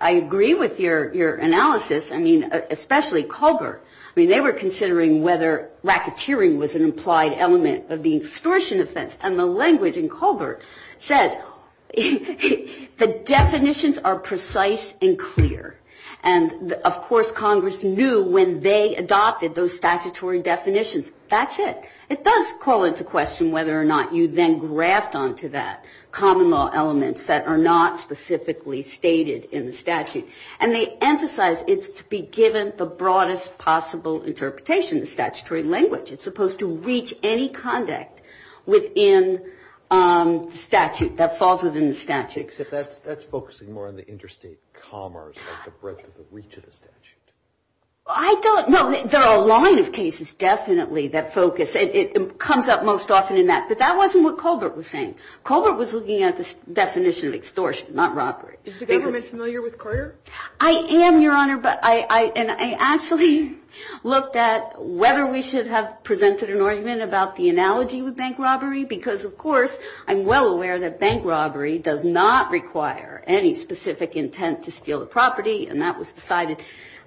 I agree with your analysis. I mean, especially Culpert. I mean, they were considering whether racketeering was an implied element of the extortion offense. And the language in Culpert says the definitions are precise and clear. And, of course, Congress knew when they adopted those statutory definitions, that's it. It does call into question whether or not you then graft onto that common law elements that are not specifically stated in the statute. And they emphasize it's to be given the broadest possible interpretation, the statutory language. It's supposed to reach any conduct within statute that falls within the statute. That's focusing more on the interstate commerce, the breadth of the reach of the statute. I don't know. There are a line of cases definitely that focus. It comes up most often in that. But that wasn't what Culpert was saying. Culpert was looking at the definition of extortion, not robbery. Is the government familiar with Carter? I am, Your Honor. And I actually looked at whether we should have presented an argument about the analogy with bank robbery. Because, of course, I'm well aware that bank robbery does not require any specific intent to steal a property. And that was decided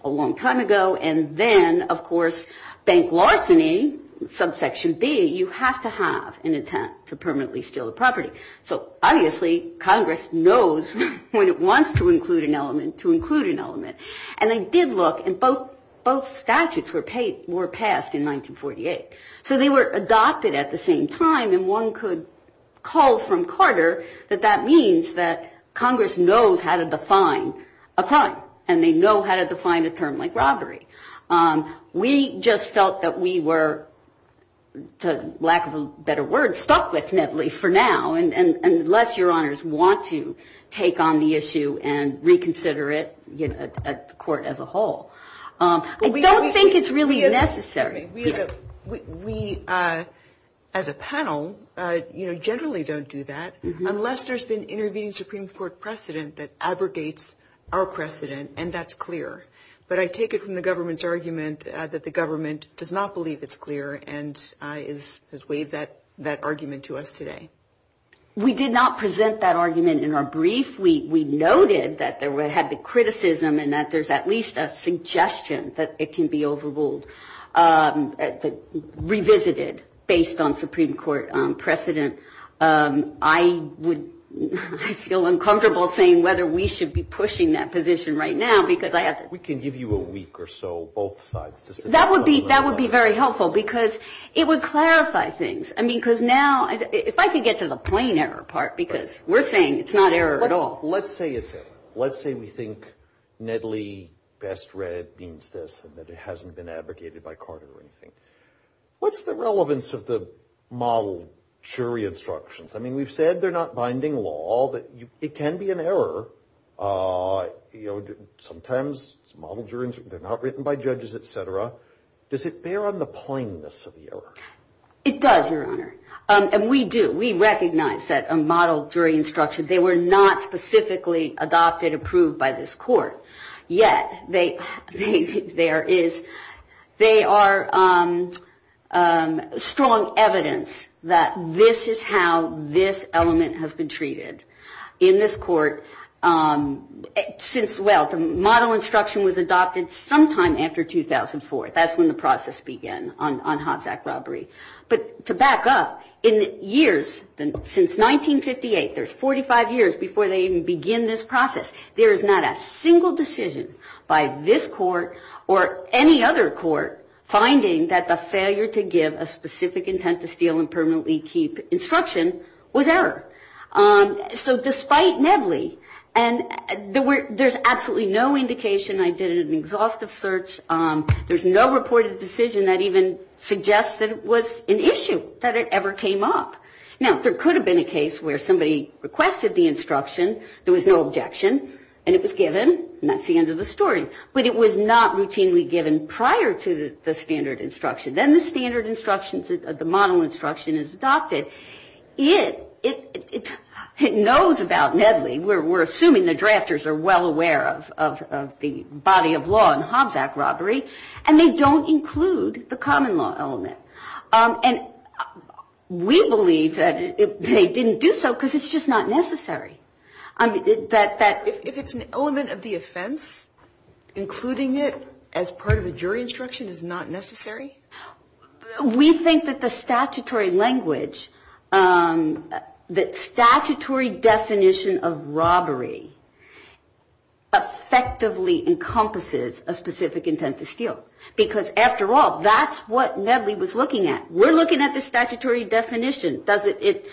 a long time ago. And then, of course, bank larceny, subsection B, you have to have an intent to permanently steal a property. So obviously Congress knows when it wants to include an element to include an element. And they did look, and both statutes were passed in 1948. So they were adopted at the same time. And one could call from Carter that that means that Congress knows how to define a crime. And they know how to define a term like robbery. We just felt that we were, to lack of a better word, stuck with Nedley for now, unless Your Honors want to take on the issue and reconsider it at court as a whole. I don't think it's really necessary. We, as a panel, generally don't do that, unless there's been intervening Supreme Court precedent that abrogates our precedent, and that's clear. But I take it from the government's argument that the government does not believe it's clear and has waived that argument to us today. We did not present that argument in our brief. We noted that we had the criticism and that there's at least a suggestion that it can be overruled, revisited based on Supreme Court precedent. I would feel uncomfortable saying whether we should be pushing that position right now because I have to. We can give you a week or so, both sides. That would be very helpful because it would clarify things. I mean, because now, if I can get to the plain error part, because we're saying it's not error at all. Let's say it's error. Let's say we think Nedley best read means this and that it hasn't been abrogated by Carter or anything. What's the relevance of the model jury instructions? I mean, we've said they're not binding law, but it can be an error. Sometimes model juries, they're not written by judges, et cetera. Does it bear on the plainness of the error? It does, Your Honor. And we do. We recognize that a model jury instruction, they were not specifically adopted, approved by this court. Yet, they are strong evidence that this is how this element has been treated in this court. Since, well, the model instruction was adopted sometime after 2004. That's when the process began on Hobbs Act robbery. But to back up, in years, since 1958, there's 45 years before they even begin this process. There is not a single decision by this court or any other court finding that the failure to give a specific intent to steal and permanently keep instruction was error. So despite Nedley, and there's absolutely no indication. I did an exhaustive search. There's no reported decision that even suggests that it was an issue, that it ever came up. Now, there could have been a case where somebody requested the instruction. There was no objection. And it was given. And that's the end of the story. But it was not routinely given prior to the standard instruction. Then the standard instructions, the model instruction is adopted. It knows about Nedley. We're assuming the drafters are well aware of the body of law in Hobbs Act robbery. And they don't include the common law element. And we believe that they didn't do so because it's just not necessary. If it's an element of the offense, including it as part of the jury instruction is not necessary? We think that the statutory language, the statutory definition of robbery, effectively encompasses a specific intent to steal. Because after all, that's what Nedley was looking at. We're looking at the statutory definition. Does it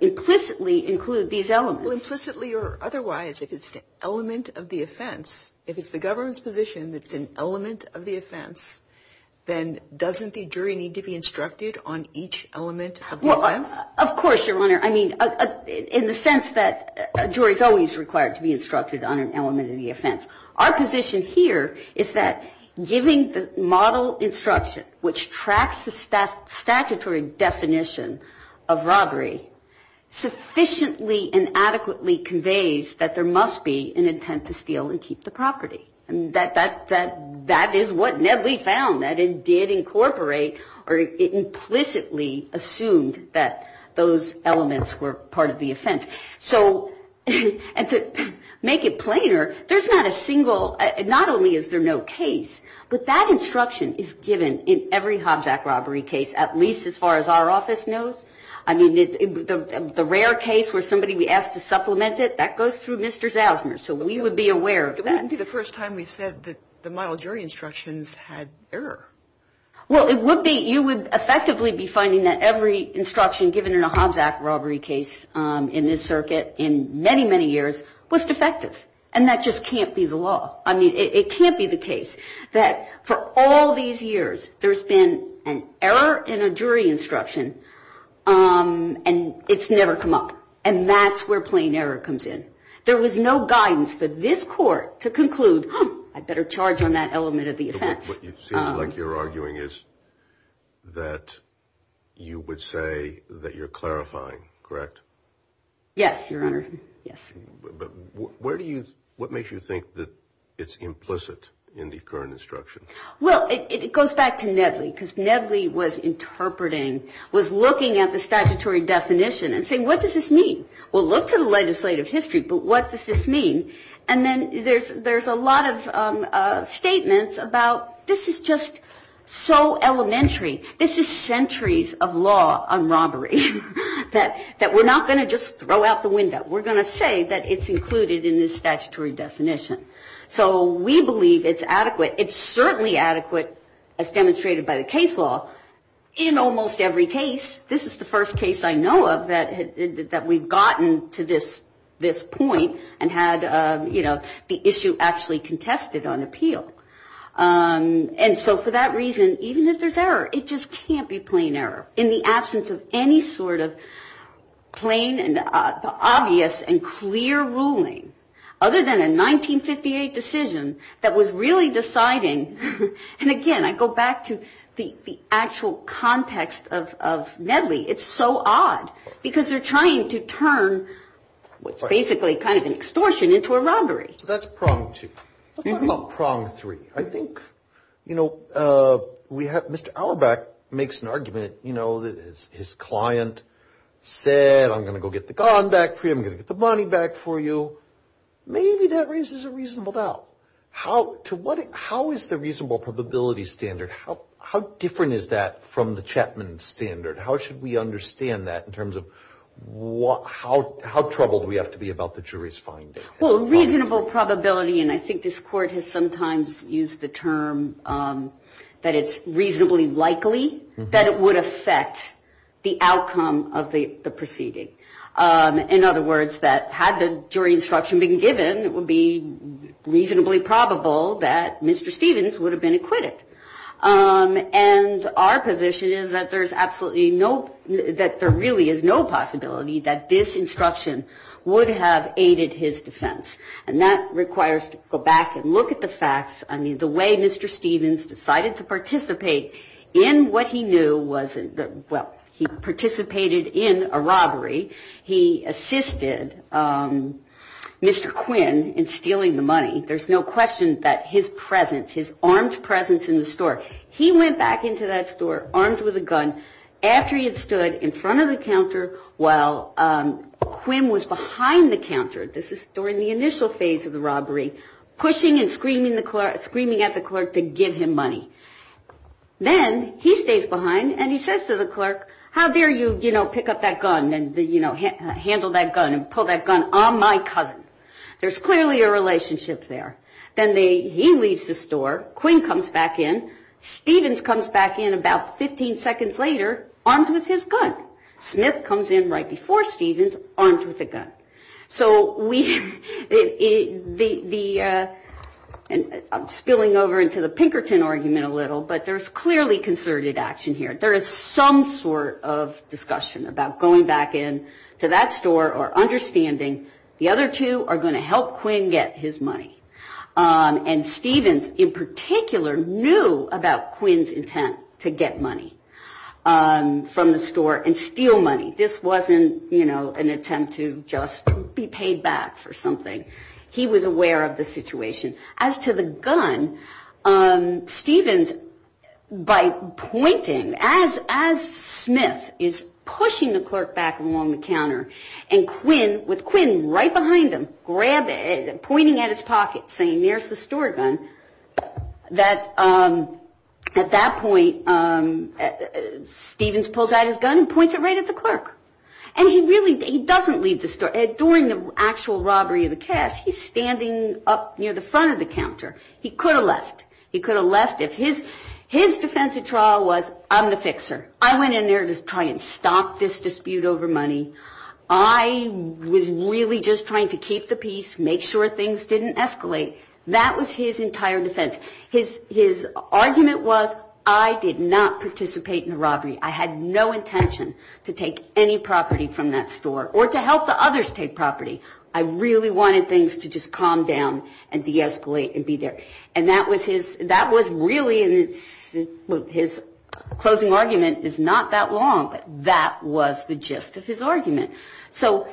implicitly include these elements? Well, implicitly or otherwise, if it's an element of the offense, if it's the government's position that it's an element of the offense, then doesn't the jury need to be instructed on each element of the offense? Well, of course, Your Honor. I mean, in the sense that a jury is always required to be instructed on an element of the offense. Our position here is that giving the model instruction, which tracks the statutory definition of robbery, sufficiently and adequately conveys that there must be an intent to steal and keep the property. And that is what Nedley found. That it did incorporate or it implicitly assumed that those elements were part of the offense. So to make it plainer, there's not a single, not only is there no case, but that instruction is given in every Hobjack robbery case, at least as far as our office knows. I mean, the rare case where somebody we asked to supplement it, that goes through Mr. Zausmer. So we would be aware of that. It wouldn't be the first time we've said that the model jury instructions had error. Well, it would be, you would effectively be finding that every instruction given in a Hobjack robbery case in this circuit in many, many years was defective. And that just can't be the law. I mean, it can't be the case that for all these years there's been an error in a jury instruction and it's never come up. And that's where plain error comes in. There was no guidance for this court to conclude, huh, I'd better charge on that element of the offense. What it seems like you're arguing is that you would say that you're clarifying, correct? Yes, Your Honor, yes. But where do you, what makes you think that it's implicit in the current instruction? Well, it goes back to Nedley, because Nedley was interpreting, was looking at the statutory definition and saying, what does this mean? Well, look to the legislative history, but what does this mean? And then there's a lot of statements about this is just so elementary. This is centuries of law on robbery that we're not going to just throw out the window. We're going to say that it's included in this statutory definition. So we believe it's adequate. It's certainly adequate as demonstrated by the case law in almost every case. This is the first case I know of that we've gotten to this point and had the issue actually contested on appeal. And so for that reason, even if there's error, it just can't be plain error. In the absence of any sort of plain and obvious and clear ruling, other than a 1958 decision that was really deciding. And again, I go back to the actual context of Nedley. It's so odd, because they're trying to turn what's basically kind of an extortion into a robbery. So that's prong two. Let's talk about prong three. I think, you know, we have, Mr. Auerbach makes an argument, you know, that his client said, I'm going to go get the gun back for you. I'm going to get the money back for you. Maybe that raises a reasonable doubt. How is the reasonable probability standard, how different is that from the Chapman standard? How should we understand that in terms of how troubled we have to be about the jury's finding? Well, reasonable probability, and I think this court has sometimes used the term that it's reasonably likely that it would affect the outcome of the proceeding. In other words, that had the jury instruction been given, it would be reasonably probable that Mr. Stevens would have been acquitted. And our position is that there's absolutely no, that there really is no possibility that this instruction would have aided his defense. I mean, the way Mr. Stevens decided to participate in what he knew wasn't, well, he participated in a robbery. He assisted Mr. Quinn in stealing the money. There's no question that his presence, his armed presence in the store, he went back into that store armed with a gun after he had stood in front of the counter while Quinn was behind the counter. This is during the initial phase of the robbery, pushing and screaming at the clerk to give him money. Then he stays behind and he says to the clerk, how dare you, you know, pick up that gun and handle that gun and pull that gun on my cousin. There's clearly a relationship there. Then he leaves the store, Quinn comes back in, Stevens comes back in about 15 seconds later armed with his gun. Smith comes in right before Stevens armed with a gun. So we, the, I'm spilling over into the Pinkerton argument a little, but there's clearly concerted action here. There is some sort of discussion about going back in to that store or understanding the other two are going to help Quinn get his money. And Stevens in particular knew about Quinn's intent to get money from the store and steal money. This wasn't, you know, an attempt to just be paid back for something. He was aware of the situation. As to the gun, Stevens, by pointing, as Smith is pushing the clerk back along the counter and Quinn, with Quinn right behind him, grab it, pointing at his pocket, saying, here's the store gun, that at that point Stevens pulls out his gun and points it right at the clerk. And he really, he doesn't leave the store. During the actual robbery of the cash, he's standing up near the front of the counter. He could have left. He could have left if his defensive trial was, I'm the fixer. I went in there to try and stop this dispute over money. I was really just trying to keep the peace, make sure things didn't escalate. That was his entire defense. His argument was, I did not participate in the robbery. I had no intention to take any property from that store or to help the others take property. I really wanted things to just calm down and deescalate and be there. And that was his, that was really his closing argument. It's not that long, but that was the gist of his argument. So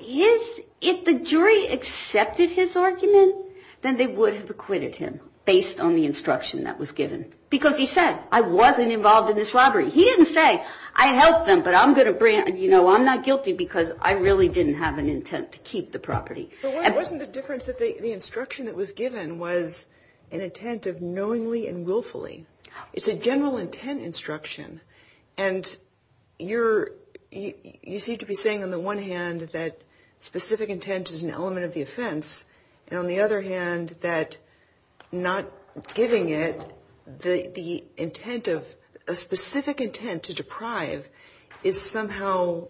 is it the jury accepted his argument? Then they would have acquitted him based on the instruction that was given. Because he said, I wasn't involved in this robbery. He didn't say, I helped them, but I'm going to, you know, I'm not guilty because I really didn't have an intent to keep the property. But wasn't the difference that the instruction that was given was an intent of knowingly and willfully? It's a general intent instruction. And you're, you seem to be saying on the one hand that specific intent is an element of the offense, and on the other hand that not giving it the intent of, a specific intent to deprive, is somehow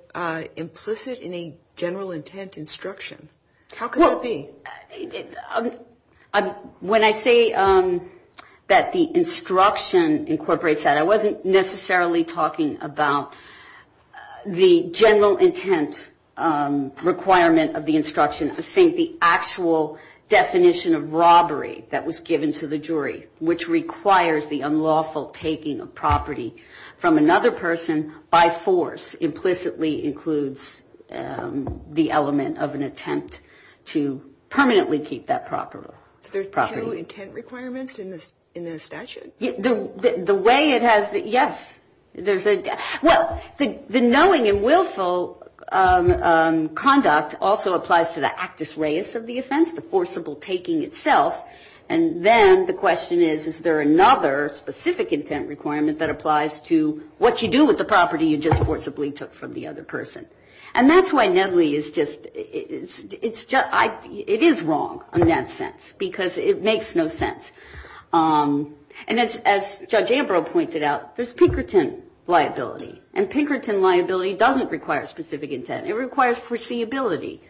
implicit in a general intent instruction. How could that be? When I say that the instruction incorporates that, I wasn't necessarily talking about the general intent requirement of the instruction. I was saying the actual definition of robbery that was given to the jury, which requires the unlawful taking of property from another person by force, implicitly includes the element of an attempt to permanently keep that property. So there's two intent requirements in the statute? The way it has, yes. There's a, well, the knowing and willful conduct also applies to the actus reus of the offense, the forcible taking itself. And then the question is, is there another specific intent requirement that applies to what you do with the property you just forcibly took from the other person? And that's why Nedley is just, it's just, it is wrong in that sense, because it makes no sense. And as Judge Ambrose pointed out, there's Pinkerton liability. And Pinkerton liability doesn't require specific intent. It requires foreseeability.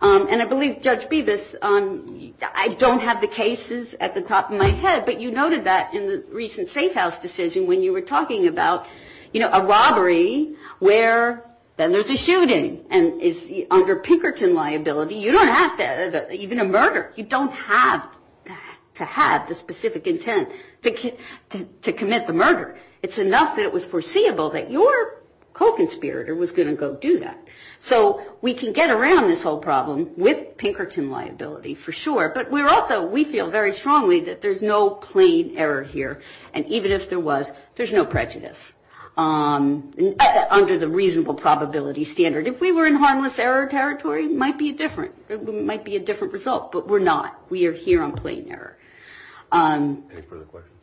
And I believe Judge Bevis, I don't have the cases at the top of my head, but you noted that in the recent safe house decision when you were talking about, you know, a robbery where then there's a shooting, and it's under Pinkerton liability. You don't have to, even a murder, you don't have to have the specific intent to commit the murder. It's enough that it was foreseeable that your co-conspirator was going to go do that. So we can get around this whole problem with Pinkerton liability for sure. But we're also, we feel very strongly that there's no plain error here. And even if there was, there's no prejudice under the reasonable probability standard. If we were in harmless error territory, it might be different. It might be a different result. But we're not. We are here on plain error. Any further questions?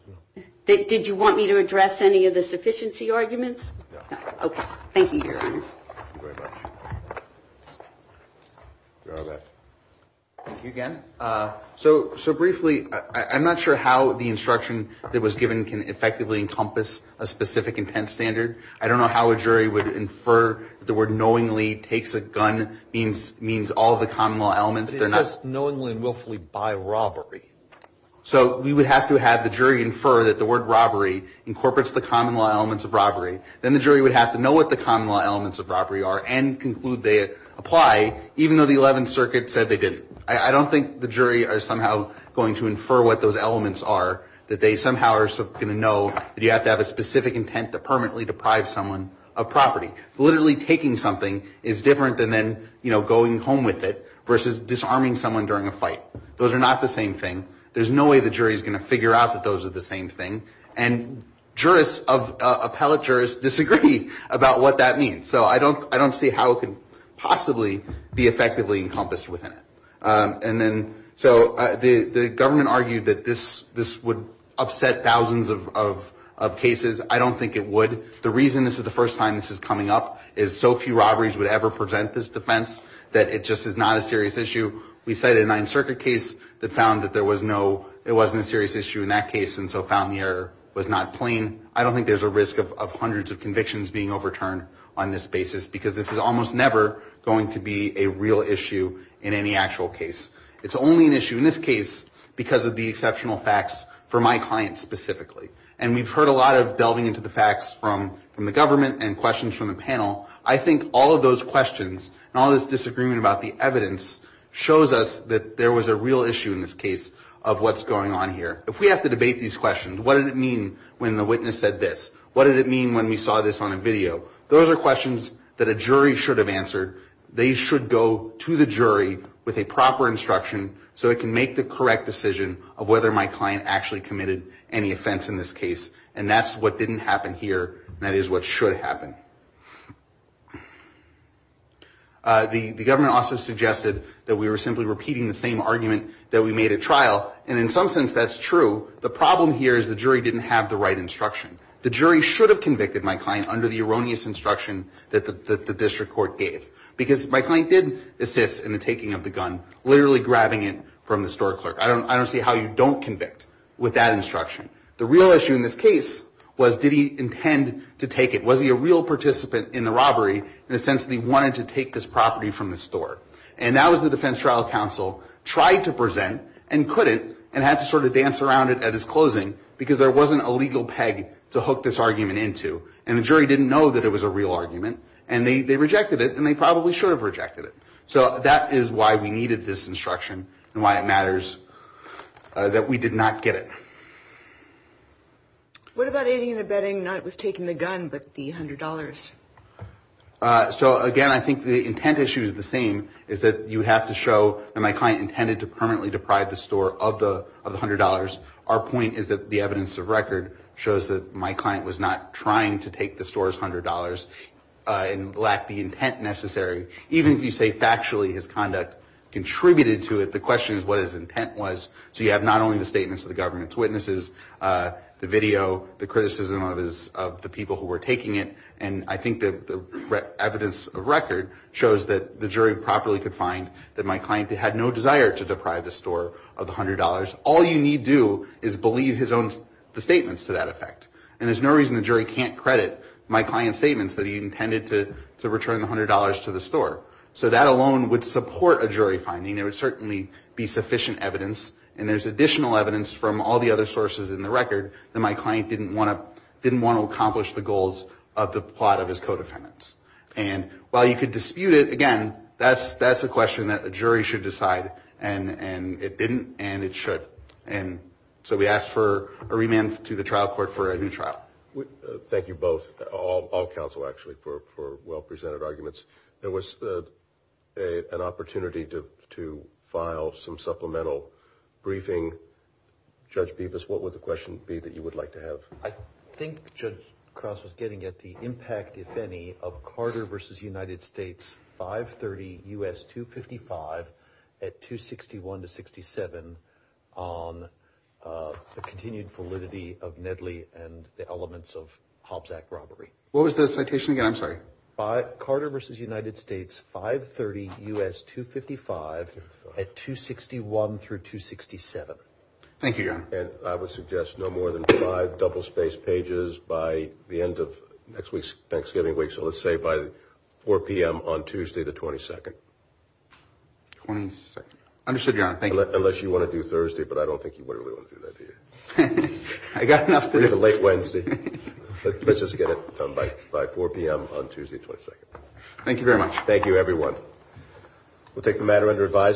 Did you want me to address any of the sufficiency arguments? No. Okay. Thank you, Your Honor. Thank you very much. Go ahead. Thank you again. So briefly, I'm not sure how the instruction that was given can effectively encompass a specific intent standard. I don't know how a jury would infer that the word knowingly takes a gun means all the common law elements. It says knowingly and willfully buy robbery. So we would have to have the jury infer that the word robbery incorporates the common law elements of robbery. Then the jury would have to know what the common law elements of robbery are and conclude they apply, even though the 11th Circuit said they didn't. I don't think the jury are somehow going to infer what those elements are, that they somehow are going to know that you have to have a specific intent to permanently deprive someone of property. Literally taking something is different than then, you know, going home with it, versus disarming someone during a fight. Those are not the same thing. There's no way the jury is going to figure out that those are the same thing. And jurists, appellate jurists, disagree about what that means. So I don't see how it could possibly be effectively encompassed within it. And then so the government argued that this would upset thousands of cases. I don't think it would. The reason this is the first time this is coming up is so few robberies would ever present this defense, that it just is not a serious issue. We cited a 9th Circuit case that found that there was no, it wasn't a serious issue in that case, and so found the error was not plain. I don't think there's a risk of hundreds of convictions being overturned on this basis, because this is almost never going to be a real issue in any actual case. It's only an issue in this case because of the exceptional facts for my client specifically. And we've heard a lot of delving into the facts from the government and questions from the panel. I think all of those questions and all this disagreement about the evidence shows us that there was a real issue in this case of what's going on here. If we have to debate these questions, what did it mean when the witness said this? What did it mean when we saw this on a video? Those are questions that a jury should have answered. They should go to the jury with a proper instruction so it can make the correct decision of whether my client actually committed any offense in this case. And that's what didn't happen here. That is what should happen. The government also suggested that we were simply repeating the same argument that we made at trial, and in some sense that's true. The problem here is the jury didn't have the right instruction. The jury should have convicted my client under the erroneous instruction that the district court gave, because my client did assist in the taking of the gun, literally grabbing it from the store clerk. I don't see how you don't convict with that instruction. The real issue in this case was did he intend to take it? Was he a real participant in the robbery in the sense that he wanted to take this property from the store? And that was the defense trial counsel tried to present and couldn't and had to sort of dance around it at his closing, because there wasn't a legal peg to hook this argument into, and the jury didn't know that it was a real argument, and they rejected it and they probably should have rejected it. So that is why we needed this instruction and why it matters that we did not get it. What about aiding and abetting not with taking the gun but the $100? So, again, I think the intent issue is the same, is that you have to show that my client intended to permanently deprive the store of the $100. Our point is that the evidence of record shows that my client was not trying to take the store's $100 and lack the intent necessary. Even if you say factually his conduct contributed to it, the question is what his intent was. So you have not only the statements of the government's witnesses, the video, the criticism of the people who were taking it, and I think the evidence of record shows that the jury properly could find that my client had no desire to deprive the store of the $100. All you need do is believe his own statements to that effect. And there's no reason the jury can't credit my client's statements that he intended to return the $100 to the store. So that alone would support a jury finding. There would certainly be sufficient evidence, and there's additional evidence from all the other sources in the record that my client didn't want to accomplish the goals of the plot of his co-defendants. And while you could dispute it, again, that's a question that a jury should decide, and it didn't and it should. And so we ask for a remand to the trial court for a new trial. Thank you both, all counsel actually, for well-presented arguments. There was an opportunity to file some supplemental briefing. Judge Bevis, what would the question be that you would like to have? I think Judge Cross was getting at the impact, if any, of Carter v. United States 530 U.S. 255 at 261 to 67 on the continued validity of Nedley and the elements of Hobbs Act robbery. What was the citation again? I'm sorry. Carter v. United States 530 U.S. 255 at 261 through 267. Thank you, John. And I would suggest no more than five double-spaced pages by the end of next week's Thanksgiving week, so let's say by 4 p.m. on Tuesday the 22nd. 22nd. Understood, John. Thank you. Unless you want to do Thursday, but I don't think you really want to do that, do you? I've got enough to do. Let's just get it done by 4 p.m. on Tuesday the 22nd. Thank you very much. Thank you, everyone.